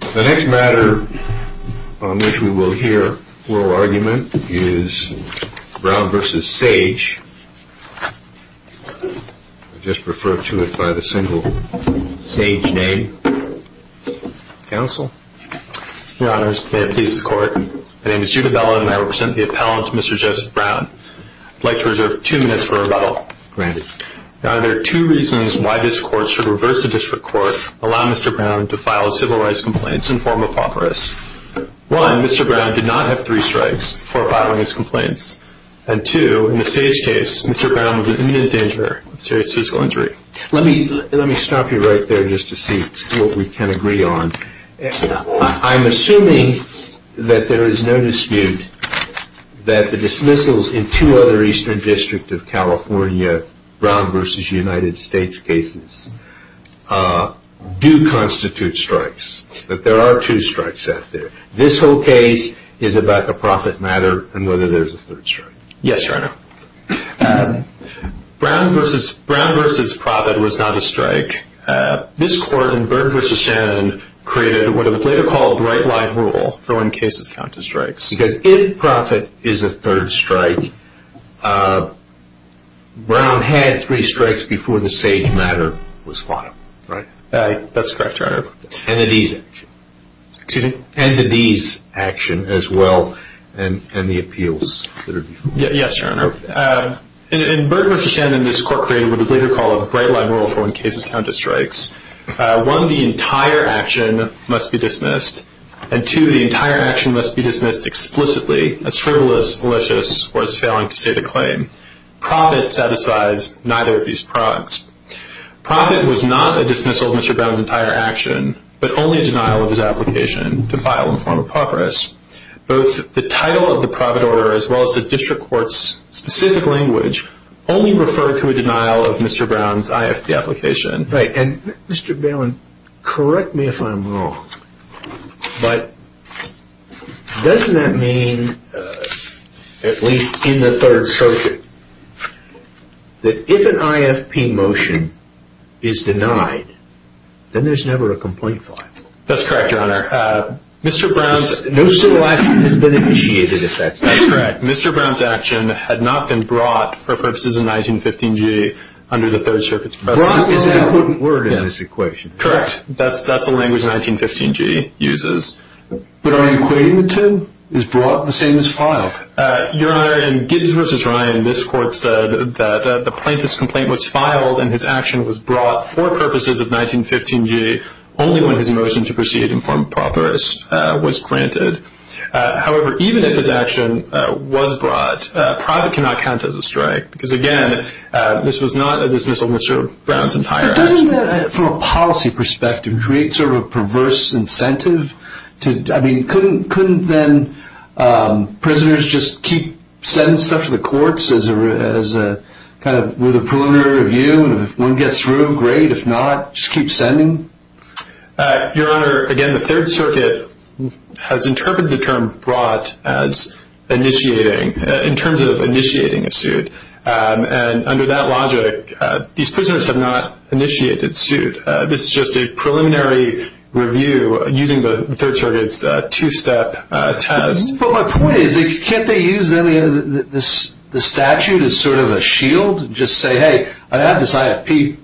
The next matter on which we will hear oral argument is Brown v. Sage, I'll just refer to it by the single Sage name, counsel. Your honors, may it please the court, my name is Judah Bellow and I represent the appellant, Mr. Joseph Brown. I'd like to reserve two minutes for rebuttal. Granted. Now there are two reasons why this court should reverse the district court and allow Mr. Brown to file civil rights complaints in the form of pauperous. One, Mr. Brown did not have three strikes for filing his complaints. And two, in the Sage case, Mr. Brown was in immediate danger of serious physical injury. Let me stop you right there just to see what we can agree on. I'm assuming that there is no dispute that the dismissals in two other Eastern District of California Brown v. United States cases do constitute strikes. But there are two strikes out there. This whole case is about the profit matter and whether there is a third strike. Yes, your honor. Brown v. Profit was not a strike. This court in Byrd v. Shannon created what was later called the right line rule for when cases count to strikes. Because if Profit is a third strike, Brown had three strikes before the Sage matter was filed. That's correct, your honor. And the D's action as well and the appeals. Yes, your honor. In Byrd v. Shannon, this court created what was later called the right line rule for when cases count to strikes. One, the entire action must be dismissed. And two, the entire action must be dismissed explicitly as frivolous, malicious, or as failing to state a claim. Profit satisfies neither of these products. Profit was not a dismissal of Mr. Brown's entire action, but only a denial of his application to file in the form of pauperous. Both the title of the profit order as well as the district court's specific language only referred to a denial of Mr. Brown's IFP application. Right. And Mr. Balin, correct me if I'm wrong, but doesn't that mean, at least in the third circuit, that if an IFP motion is denied, then there's never a complaint filed? That's correct, your honor. No civil action has been initiated, if that's the case. That's correct. Mr. Brown's action had not been brought for purposes of 1915G under the third circuit's precedent. Brought is an important word in this equation. Correct. That's the language 1915G uses. But our equation, then, is brought the same as filed. Your honor, in Gibbs v. Ryan, this court said that the plaintiff's complaint was filed and his action was brought for purposes of 1915G only when his motion to proceed in form of pauperous was granted. However, even if his action was brought, profit cannot count as a strike because, again, this was not a dismissal of Mr. Brown's entire action. Couldn't that, from a policy perspective, create sort of a perverse incentive? I mean, couldn't then prisoners just keep sending stuff to the courts with a preliminary review, and if one gets through, great. If not, just keep sending? Your honor, again, the third circuit has interpreted the term brought as initiating, in terms of initiating a suit. And under that logic, these prisoners have not initiated suit. This is just a preliminary review using the third circuit's two-step test. But my point is, can't they use the statute as sort of a shield and just say, hey, I have this IFP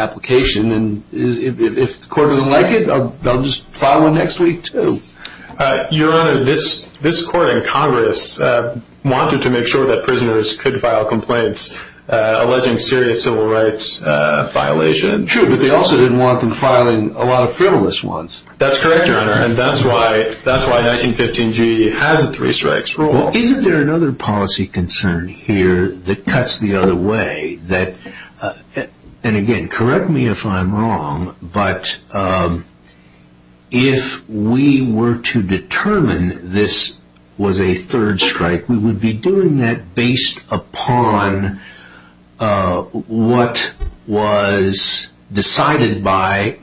application, and if the court doesn't like it, they'll just file one next week, too? Your honor, this court in Congress wanted to make sure that prisoners could file complaints alleging serious civil rights violations. True, but they also didn't want them filing a lot of frivolous ones. That's correct, your honor, and that's why 1915G has a three-strikes rule. Well, isn't there another policy concern here that cuts the other way? And again, correct me if I'm wrong, but if we were to determine this was a third strike, we would be doing that based upon what was decided by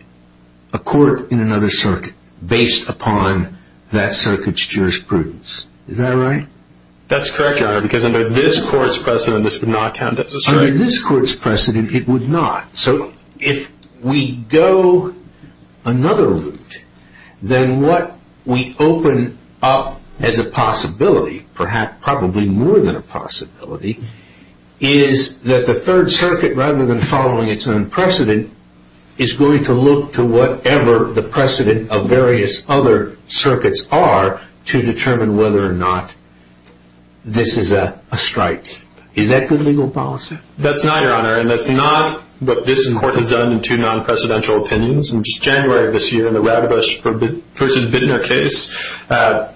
a court in another circuit, based upon that circuit's jurisprudence. Is that right? That's correct, your honor, because under this court's precedent, this would not count as a strike. Under this court's precedent, it would not. So if we go another route, then what we open up as a possibility, perhaps probably more than a possibility, is that the third circuit, rather than following its own precedent, is going to look to whatever the precedent of various other circuits are to determine whether or not this is a strike. Is that good legal policy? That's not, your honor, and that's not what this court has done in two non-precedential opinions. In just January of this year, in the Radbush v. Bittner case,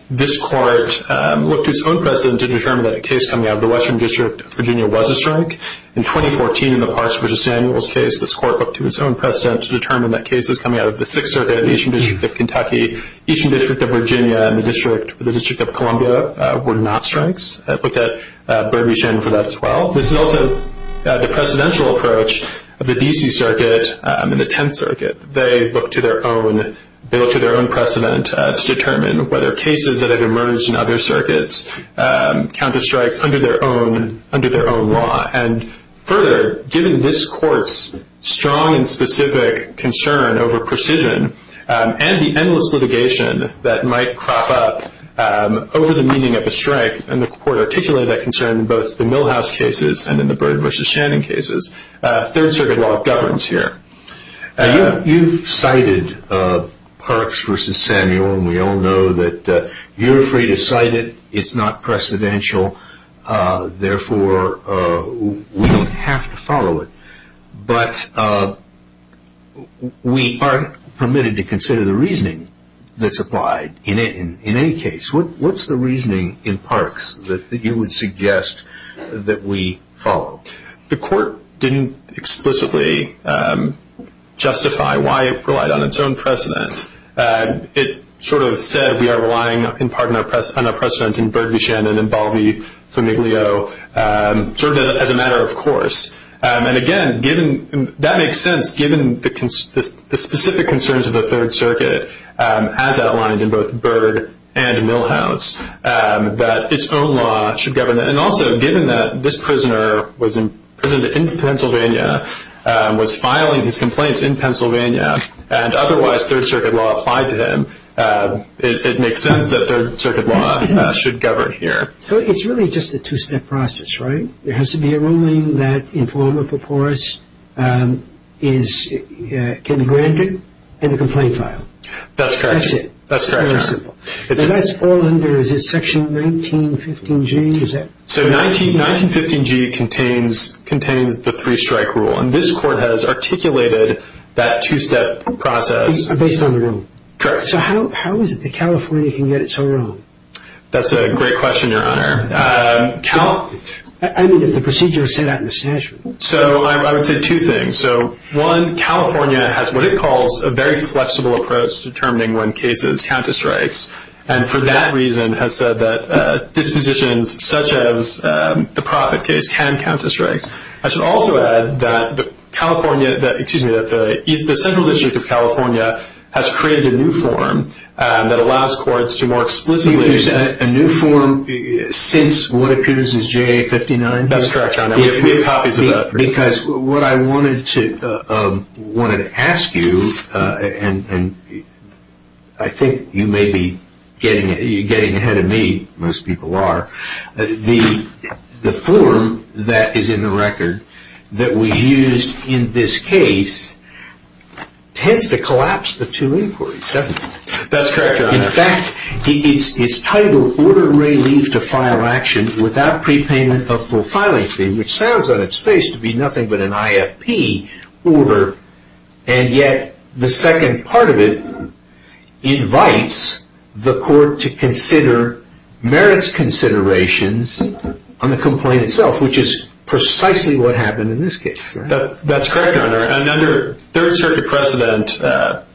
this court looked to its own precedent to determine that a case coming out of the Western District of Virginia was a strike. In 2014, in the Parks v. Samuels case, this court looked to its own precedent to determine that cases coming out of the Sixth Circuit and the Eastern District of Kentucky, Eastern District of Virginia, and the District of Columbia were not strikes. I looked at Bradbury-Shinn for that as well. This is also the precedential approach of the D.C. Circuit and the Tenth Circuit. They look to their own precedent to determine whether cases that have emerged in other circuits count as strikes under their own law. And further, given this court's strong and specific concern over precision and the endless litigation that might crop up over the meaning of a strike, and the court articulated that concern in both the Milhouse cases and in the Bird v. Shannon cases, Third Circuit law governs here. You've cited Parks v. Samuel, and we all know that you're free to cite it. It's not precedential. Therefore, we don't have to follow it. But we aren't permitted to consider the reasoning that's applied in any case. What's the reasoning in Parks that you would suggest that we follow? The court didn't explicitly justify why it relied on its own precedent. It sort of said we are relying in part on our precedent in Bird v. Shannon and Baldy v. Miglio, sort of as a matter of course. And again, that makes sense given the specific concerns of the Third Circuit, as outlined in both Bird and Milhouse, that its own law should govern. And also, given that this prisoner was imprisoned in Pennsylvania, was filing his complaints in Pennsylvania, and otherwise Third Circuit law applied to him, it makes sense that Third Circuit law should govern here. So it's really just a two-step process, right? There has to be a ruling that, in form of paporus, can be granted and the complaint filed. That's correct. That's it. That's correct, Your Honor. Very simple. Now, that's all under, is it Section 1915G? So 1915G contains the three-strike rule, and this court has articulated that two-step process. Based on the rule. Correct. So how is it that California can get it so wrong? That's a great question, Your Honor. I mean, if the procedure is set out in the statute. So I would say two things. So, one, California has what it calls a very flexible approach to determining when cases count as strikes, and for that reason has said that dispositions such as the Profitt case can count as strikes. I should also add that California, excuse me, that the Central District of California has created a new form that allows courts to more explicitly There's a new form since what appears as JA 59? That's correct, Your Honor. We have copies of that. Because what I wanted to ask you, and I think you may be getting ahead of me, most people are, the form that is in the record that was used in this case tends to collapse the two inquiries, doesn't it? That's correct, Your Honor. In fact, it's titled, order Ray Leaf to file action without prepayment of full filing fee, which sounds on its face to be nothing but an IFP order, and yet the second part of it invites the court to consider merits considerations on the complaint itself, which is precisely what happened in this case. That's correct, Your Honor. And under Third Circuit precedent,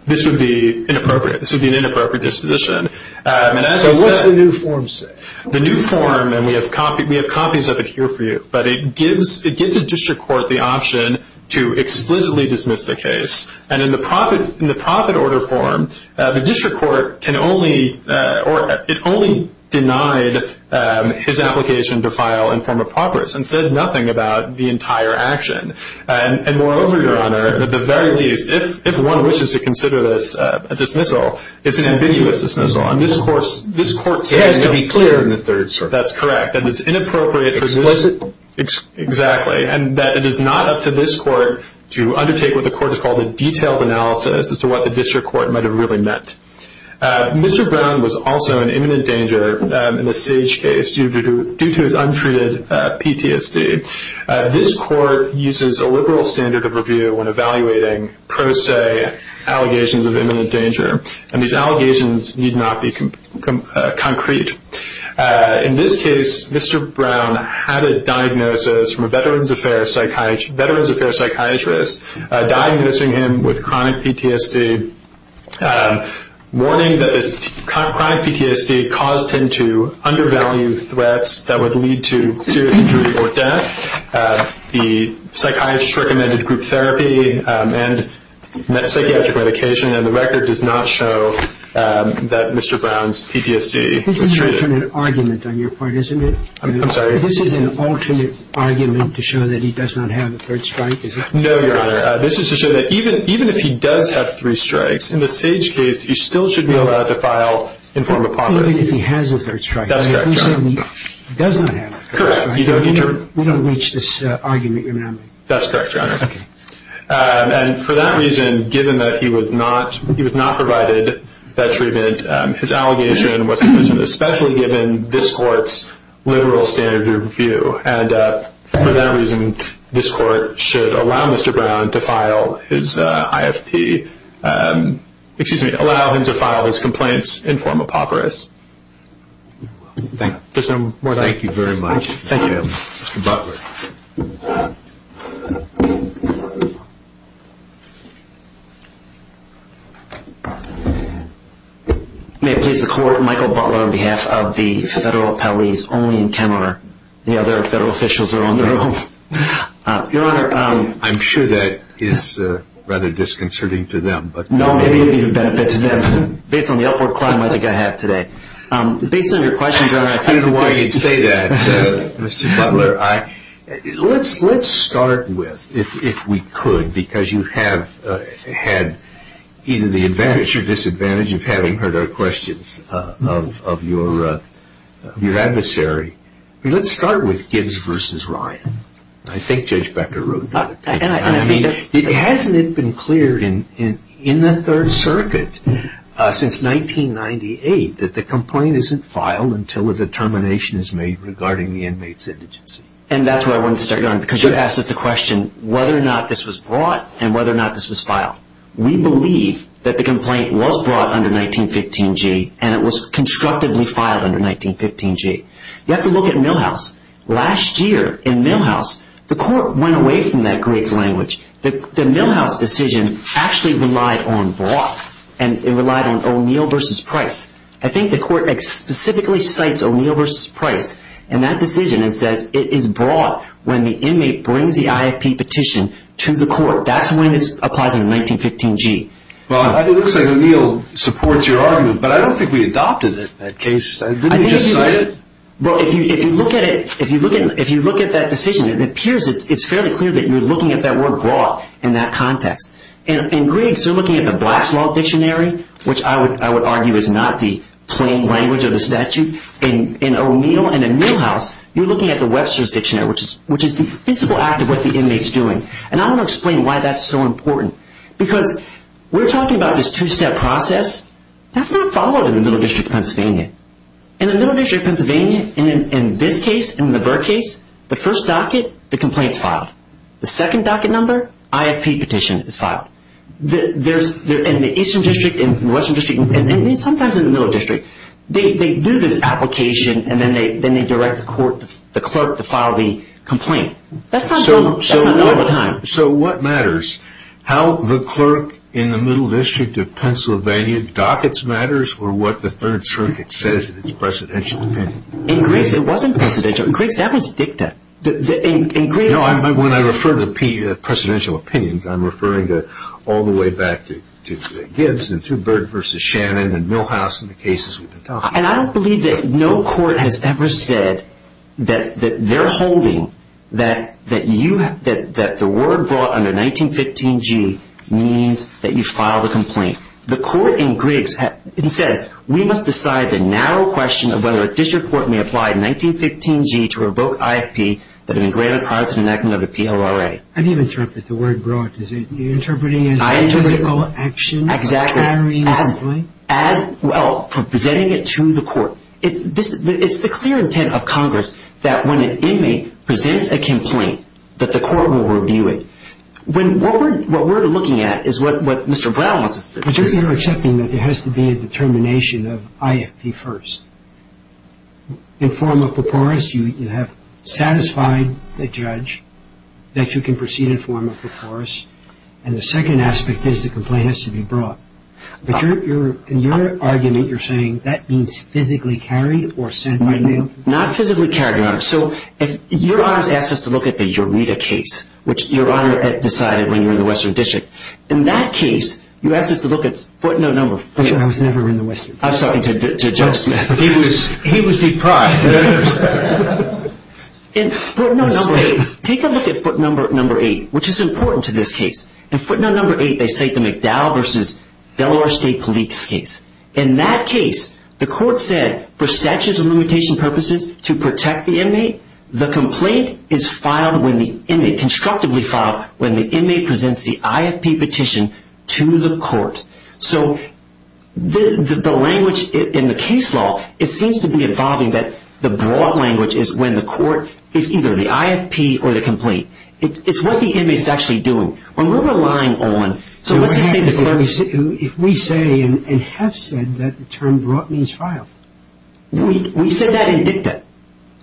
this would be inappropriate. This would be an inappropriate disposition. So what's the new form say? The new form, and we have copies of it here for you, but it gives the district court the option to explicitly dismiss the case. And in the Profitt order form, the district court can only, or it only denied his application to file in form of progress and said nothing about the entire action. And moreover, Your Honor, at the very least, if one wishes to consider this a dismissal, it's an ambiguous dismissal. It has to be clear in the Third Circuit. That's correct. That it's inappropriate. Explicit. Exactly. And that it is not up to this court to undertake what the court has called a detailed analysis as to what the district court might have really meant. Mr. Brown was also in imminent danger in the Sage case due to his untreated PTSD. This court uses a liberal standard of review when evaluating pro se allegations of imminent danger, and these allegations need not be concrete. In this case, Mr. Brown had a diagnosis from a Veterans Affairs psychiatrist diagnosing him with chronic PTSD, warning that this chronic PTSD caused him to undervalue threats that would lead to serious injury or death. The psychiatrist recommended group therapy and psychiatric medication, and the record does not show that Mr. Brown's PTSD was treated. This is an alternate argument on your part, isn't it? I'm sorry? This is an alternate argument to show that he does not have a third strike, is it? No, Your Honor. This is to show that even if he does have three strikes, in the Sage case, he still should be allowed to file in form of pauperism. Even if he has a third strike. That's correct, Your Honor. Even if he does not have a third strike. We don't reach this argument, Your Honor. That's correct, Your Honor. Okay. And for that reason, given that he was not provided that treatment, his allegation was implicit, especially given this court's liberal standard of review. And for that reason, this court should allow Mr. Brown to file his IFP, excuse me, allow him to file his complaints in form of pauperism. Thank you very much. Thank you, Your Honor. Mr. Butler. May it please the Court, Michael Butler on behalf of the federal appellees only in Kenmore. The other federal officials are on their own. Your Honor. I'm sure that is rather disconcerting to them. No, maybe it would be of benefit to them. Based on the upward climb I think I have today. Based on your questions, Your Honor, I don't know why you'd say that, Mr. Butler. Let's start with, if we could, because you have had either the advantage or disadvantage of having heard our questions of your adversary. Let's start with Gibbs v. Ryan. I think Judge Becker wrote that opinion. Hasn't it been clear in the Third Circuit since 1998 that the complaint isn't filed until a determination is made regarding the inmate's indigency? And that's where I wanted to start, Your Honor, because you asked us the question whether or not this was brought and whether or not this was filed. We believe that the complaint was brought under 1915G and it was constructively filed under 1915G. You have to look at Milhouse. Last year in Milhouse, the court went away from that Griggs language. The Milhouse decision actually relied on brought and it relied on O'Neill v. Price. I think the court specifically cites O'Neill v. Price in that decision and says it is brought when the inmate brings the IFP petition to the court. That's when this applies under 1915G. Well, it looks like O'Neill supports your argument, but I don't think we adopted that case. Didn't we just cite it? Well, if you look at it, if you look at that decision, it appears it's fairly clear that you're looking at that word brought in that context. In Griggs, you're looking at the Black's Law Dictionary, which I would argue is not the plain language of the statute. In O'Neill and in Milhouse, you're looking at the Webster's Dictionary, which is the physical act of what the inmate's doing. And I want to explain why that's so important because we're talking about this two-step process. That's not followed in the Middle District of Pennsylvania. In the Middle District of Pennsylvania, in this case, in the Burr case, the first docket, the complaint's filed. The second docket number, IFP petition is filed. In the Eastern District, in the Western District, and sometimes in the Middle District, they do this application and then they direct the clerk to file the complaint. That's not all the time. So what matters? How the clerk in the Middle District of Pennsylvania dockets matters or what the Third Circuit says in its precedential opinion? In Griggs, it wasn't precedential. In Griggs, that was dicta. When I refer to precedential opinions, I'm referring all the way back to Gibbs and to Byrd v. Shannon and Milhouse and the cases we've been talking about. And I don't believe that no court has ever said that they're holding that the word brought under 1915G means that you file the complaint. The court in Griggs said, we must decide the narrow question of whether a district court may apply 1915G to revoke IFP, that have been granted a positive enactment of the PLRA. I didn't even interpret the word brought. You're interpreting it as a physical action? Exactly. As well, presenting it to the court. It's the clear intent of Congress that when an inmate presents a complaint, that the court will review it. What we're looking at is what Mr. Brown wants us to do. But you're accepting that there has to be a determination of IFP first. In form of paporus, you have satisfied the judge that you can proceed in form of paporus. And the second aspect is the complaint has to be brought. But in your argument, you're saying that means physically carried or sent by mail? Not physically carried, Your Honor. So if Your Honor's asked us to look at the Eureta case, which Your Honor decided when you were in the Western District. In that case, you asked us to look at footnote number four. I was never in the Western District. I was talking to Joe Smith. He was deprived. And footnote number eight. Take a look at footnote number eight, which is important to this case. In footnote number eight, they cite the McDowell v. Delaware State Police case. In that case, the court said for statutes of limitation purposes to protect the inmate, the complaint is constructively filed when the inmate presents the IFP petition to the court. So the language in the case law, it seems to be evolving that the broad language is when the court is either the IFP or the complaint. It's what the inmate is actually doing. When we're relying on so let's just say the clerk. If we say and have said that the term brought means filed. We said that in dicta.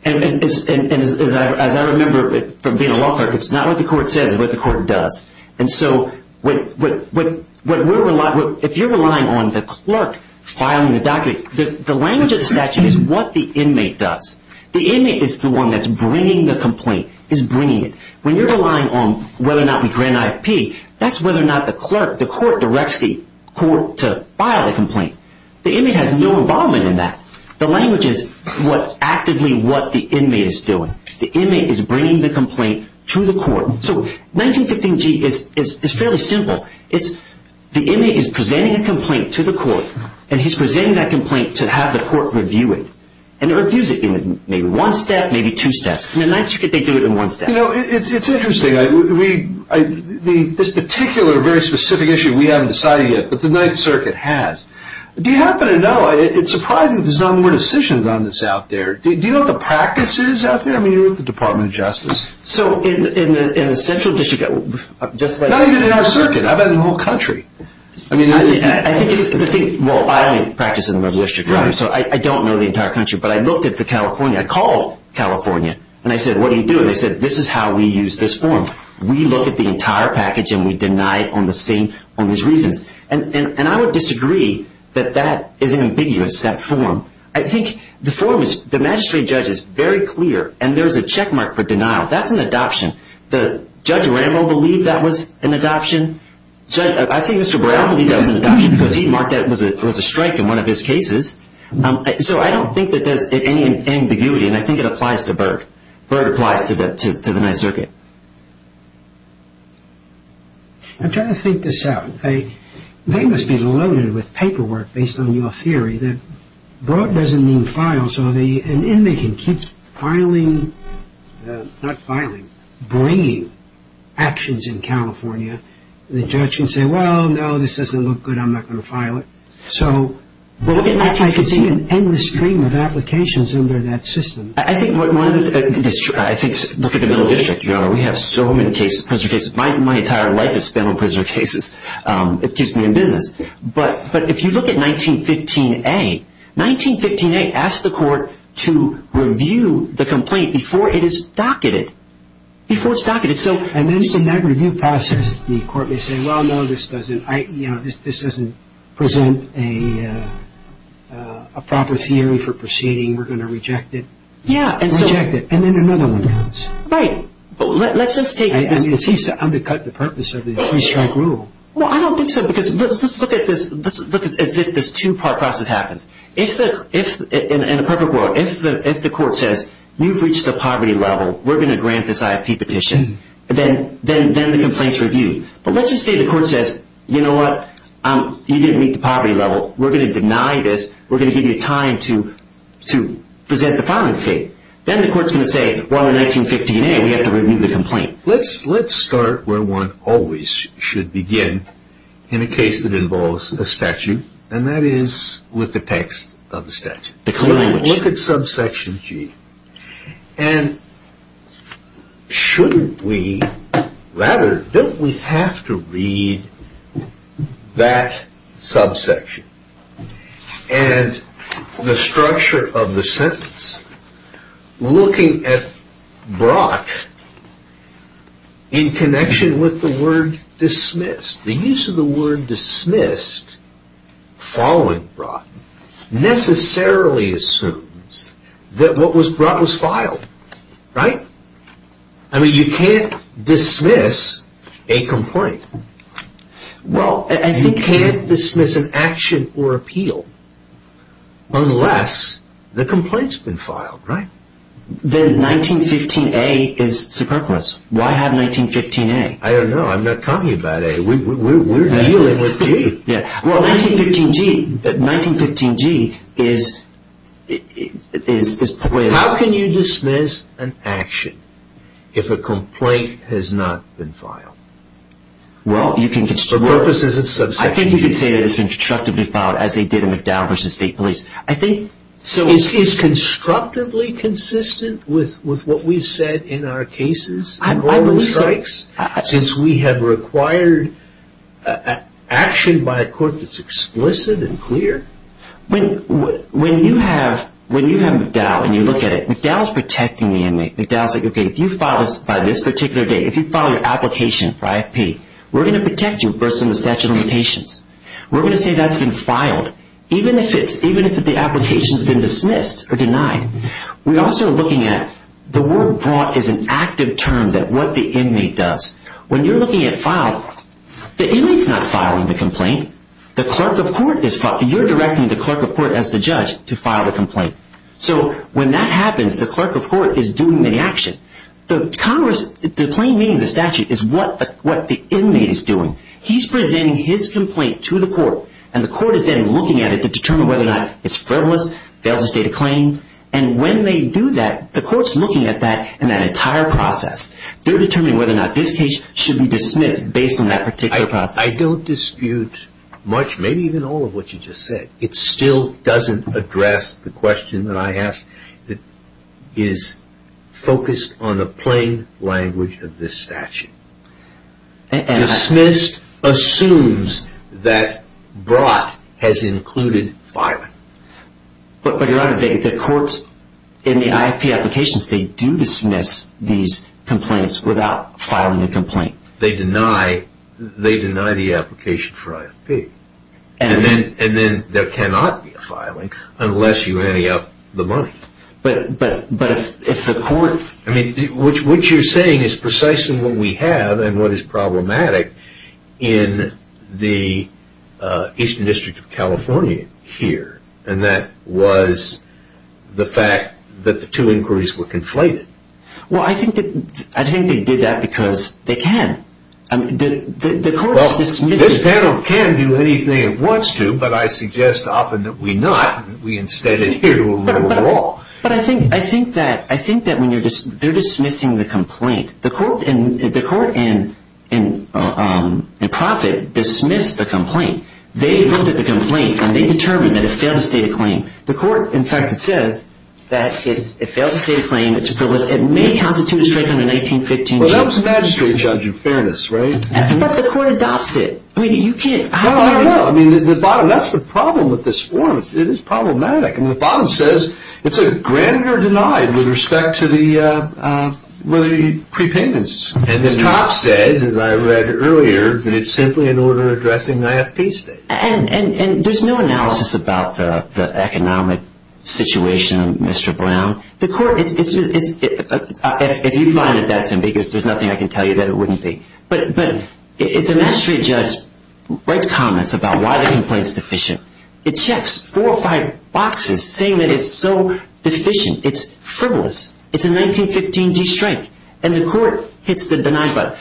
And as I remember from being a law clerk, it's not what the court says, it's what the court does. And so if you're relying on the clerk filing the document, the language of the statute is what the inmate does. The inmate is the one that's bringing the complaint, is bringing it. When you're relying on whether or not we grant IFP, that's whether or not the clerk, the court, directs the court to file the complaint. The inmate has no involvement in that. The language is actively what the inmate is doing. The inmate is bringing the complaint to the court. So 1915G is fairly simple. It's the inmate is presenting a complaint to the court, and he's presenting that complaint to have the court review it. And it reviews it in maybe one step, maybe two steps. In the Ninth Circuit, they do it in one step. You know, it's interesting. This particular very specific issue, we haven't decided yet, but the Ninth Circuit has. Do you happen to know, it's surprising there's no more decisions on this out there. Do you know what the practice is out there? I mean, you're with the Department of Justice. So in the Central District, just like- Not even in our circuit. I've been in the whole country. I mean- I think it's the thing, well, I only practice in the Middle District, so I don't know the entire country. But I looked at the California. I called California, and I said, what are you doing? They said, this is how we use this form. We look at the entire package, and we deny it on the same, on these reasons. And I would disagree that that is ambiguous, that form. I think the form is, the magistrate judge is very clear, and there's a checkmark for denial. That's an adoption. Judge Rambo believed that was an adoption. I think Mr. Brown believed that was an adoption because he marked that it was a strike in one of his cases. So I don't think that there's any ambiguity, and I think it applies to Berg. Berg applies to the Ninth Circuit. I'm trying to think this out. They must be loaded with paperwork, based on your theory, that broad doesn't mean file. So an inmate can keep filing, not filing, bringing actions in California. The judge can say, well, no, this doesn't look good. I'm not going to file it. So I could see an endless stream of applications under that system. I think one of the things, look at the Middle District. We have so many prisoner cases. My entire life has been on prisoner cases. It keeps me in business. But if you look at 1915A, 1915A asks the court to review the complaint before it is docketed, before it's docketed. And then in that review process, the court may say, well, no, this doesn't present a proper theory for proceeding. We're going to reject it. Reject it. And then another one comes. Right. It seems to undercut the purpose of the three-strike rule. Well, I don't think so, because let's look as if this two-part process happens. In a perfect world, if the court says, you've reached the poverty level. We're going to grant this IP petition. Then the complaint is reviewed. But let's just say the court says, you know what, you didn't meet the poverty level. We're going to deny this. We're going to give you time to present the filing fee. Then the court's going to say, well, in 1915A, we have to review the complaint. Let's start where one always should begin in a case that involves a statute, and that is with the text of the statute. Look at subsection G. And shouldn't we rather, don't we have to read that subsection? And the structure of the sentence, looking at brought in connection with the word dismissed. The use of the word dismissed following brought necessarily assumes that what was brought was filed. Right? I mean, you can't dismiss a complaint. You can't dismiss an action or appeal unless the complaint's been filed. Right? Then 1915A is superfluous. Why have 1915A? I don't know. I'm not talking about A. We're dealing with G. Well, 1915G is... How can you dismiss an action if a complaint has not been filed? Well, you can... For purposes of subsection G. I think you could say that it's been constructively filed, as they did in McDowell v. State Police. I think... Is constructively consistent with what we've said in our cases? I believe so. Since we have required action by a court that's explicit and clear? When you have McDowell and you look at it, McDowell's protecting the inmate. McDowell's like, okay, if you file this by this particular date, if you file your application for IFP, we're going to protect you versus the statute of limitations. We're going to say that's been filed, even if the application's been dismissed or denied. We're also looking at the word brought as an active term that what the inmate does. When you're looking at filed, the inmate's not filing the complaint. The clerk of court is filing. You're directing the clerk of court as the judge to file the complaint. So when that happens, the clerk of court is doing the action. The claim meeting, the statute, is what the inmate is doing. He's presenting his complaint to the court, and the court is then looking at it to determine whether or not it's frivolous, fails to state a claim. And when they do that, the court's looking at that in that entire process. They're determining whether or not this case should be dismissed based on that particular process. I don't dispute much, maybe even all of what you just said. It still doesn't address the question that I asked that is focused on the plain language of this statute. Dismissed assumes that brought has included filing. But, Your Honor, the courts in the IFP applications, they do dismiss these complaints without filing a complaint. They deny the application for IFP. And then there cannot be a filing unless you ante up the money. But if the court... I mean, what you're saying is precisely what we have and what is problematic in the Eastern District of California here. And that was the fact that the two inquiries were conflated. Well, I think they did that because they can. The court's dismissing... Well, this panel can do anything it wants to, but I suggest often that we not. We instead adhere to a rule of law. But I think that when they're dismissing the complaint, the court and Profitt dismissed the complaint. They looked at the complaint, and they determined that it failed to state a claim. The court, in fact, says that it failed to state a claim. It's a privilege. It may constitute a strike on the 1915... Well, that was the magistrate judge of fairness, right? But the court adopts it. I mean, you can't... No, I don't know. I mean, the bottom... That's the problem with this form. It is problematic. And the bottom says it's a granted or denied with respect to the prepayments. And the top says, as I read earlier, that it's simply an order addressing the IFP state. And there's no analysis about the economic situation, Mr. Brown. The court is... If you find it, that's ambiguous. There's nothing I can tell you that it wouldn't be. But the magistrate judge writes comments about why the complaint's deficient. It checks four or five boxes saying that it's so deficient. It's frivolous. It's a 1915 G strike. And the court hits the deny button.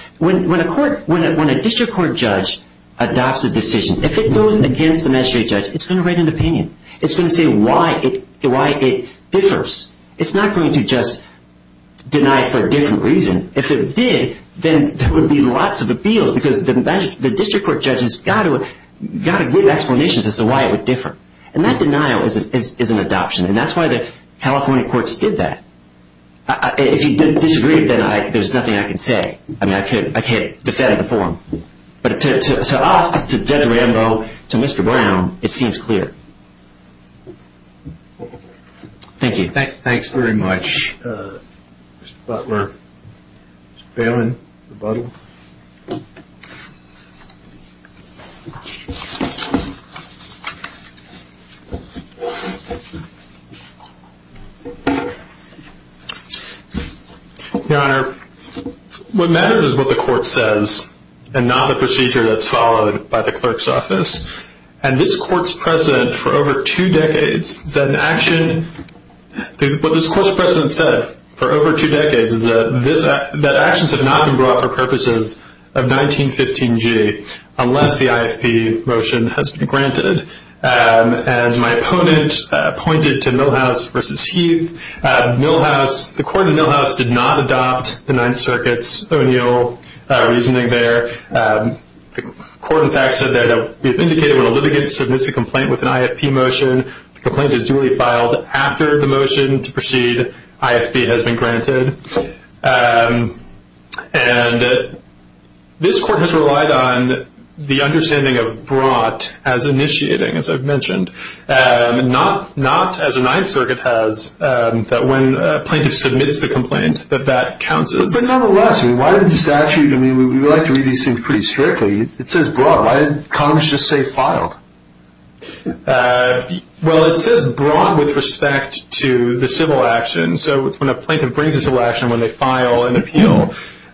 When a district court judge adopts a decision, if it goes against the magistrate judge, it's going to write an opinion. It's going to say why it differs. It's not going to just deny it for a different reason. If it did, then there would be lots of appeals because the district court judge has got to give explanations as to why it would differ. And that denial is an adoption. And that's why the California courts did that. If you disagree, then there's nothing I can say. I mean, I can't defend the form. But to us, to Judge Rambo, to Mr. Brown, it seems clear. Thank you. Thanks very much, Mr. Butler. Mr. Balin, rebuttal. Your Honor, what matters is what the court says and not the procedure that's followed by the clerk's office. And this court's precedent for over two decades is that an action – what this court's precedent said for over two decades is that actions have not been brought for purposes of the court's decision. Unless the IFP motion has been granted. And my opponent pointed to Milhouse v. Heath. The court in Milhouse did not adopt the Ninth Circuit's O'Neill reasoning there. The court, in fact, said that we have indicated when a litigant submits a complaint with an IFP motion, the complaint is duly filed after the motion to proceed. IFP has been granted. And this court has relied on the understanding of brought as initiating, as I've mentioned. Not, as the Ninth Circuit has, that when a plaintiff submits the complaint, that that counts as – But nonetheless, why did the statute – I mean, we like to read these things pretty strictly. It says brought. Why did Congress just say filed? Well, it says brought with respect to the civil action. So when a plaintiff brings a civil action, when they file an appeal,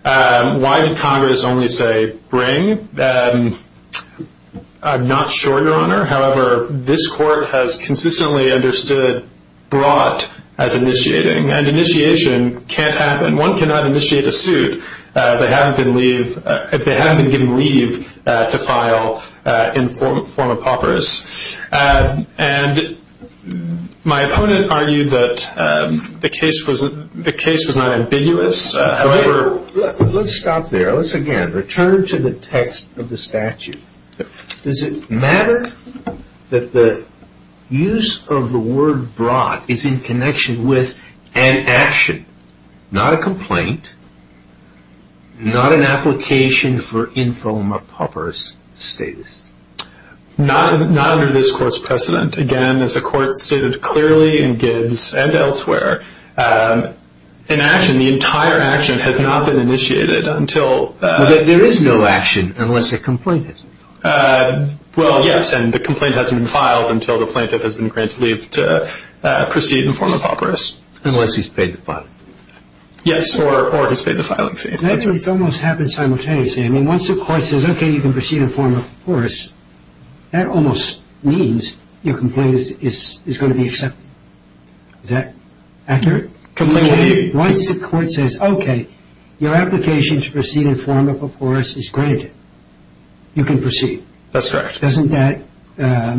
why did Congress only say bring? I'm not sure, Your Honor. However, this court has consistently understood brought as initiating. And initiation can't happen. One cannot initiate a suit if they haven't been given leave to file in the form of paupers. And my opponent argued that the case was not ambiguous. However – Let's stop there. Let's, again, return to the text of the statute. Does it matter that the use of the word brought is in connection with an action, not a complaint, not an application for infomer paupers status? Not under this court's precedent. Again, as the court stated clearly in Gibbs and elsewhere, an action, the entire action, has not been initiated until – There is no action unless a complaint has been filed. Well, yes, and the complaint hasn't been filed until the plaintiff has been granted leave to proceed in the form of paupers. Unless he's paid the filing fee. Yes, or has paid the filing fee. It almost happens simultaneously. I mean, once the court says, okay, you can proceed in the form of paupers, that almost means your complaint is going to be accepted. Is that accurate? Once the court says, okay, your application to proceed in the form of paupers is granted, you can proceed. That's correct. Doesn't that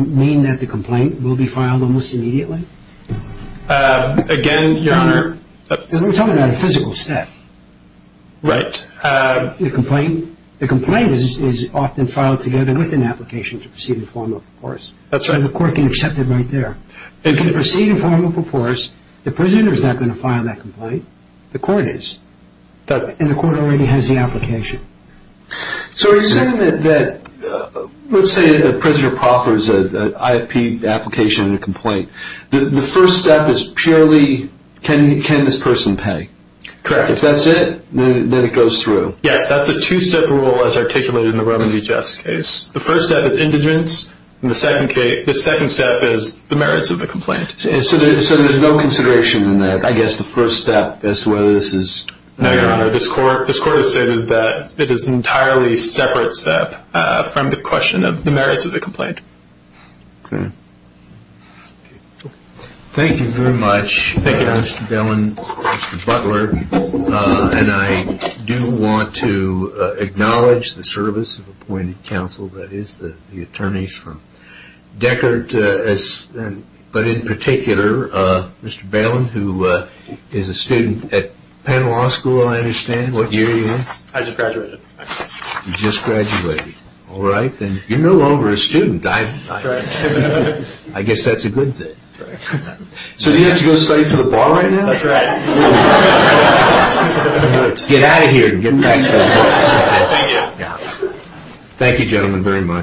mean that the complaint will be filed almost immediately? Again, Your Honor – We're talking about a physical step. Right. The complaint is often filed together with an application to proceed in the form of paupers. That's right. And the court can accept it right there. It can proceed in the form of paupers. The prisoner is not going to file that complaint. The court is. And the court already has the application. So are you saying that, let's say a prisoner proffers an IFP application and a complaint, the first step is purely, can this person pay? Correct. If that's it, then it goes through. Yes, that's a two-step rule as articulated in the Roman V. Jeffs case. The first step is indigence, and the second step is the merits of the complaint. So there's no consideration in that, I guess, the first step as to whether this is – No, Your Honor, this court has stated that it is an entirely separate step from the question of the merits of the complaint. Okay. Thank you very much. Thank you, Mr. Balin, Mr. Butler. And I do want to acknowledge the service of appointed counsel, that is, the attorneys from Deckard. But in particular, Mr. Balin, who is a student at Penn Law School, I understand. What year are you in? I just graduated. You just graduated. All right. Then you're no longer a student. I guess that's a good thing. So do you have to go study for the bar right now? That's right. Get out of here and get back to work. Thank you. Thank you, gentlemen, very much.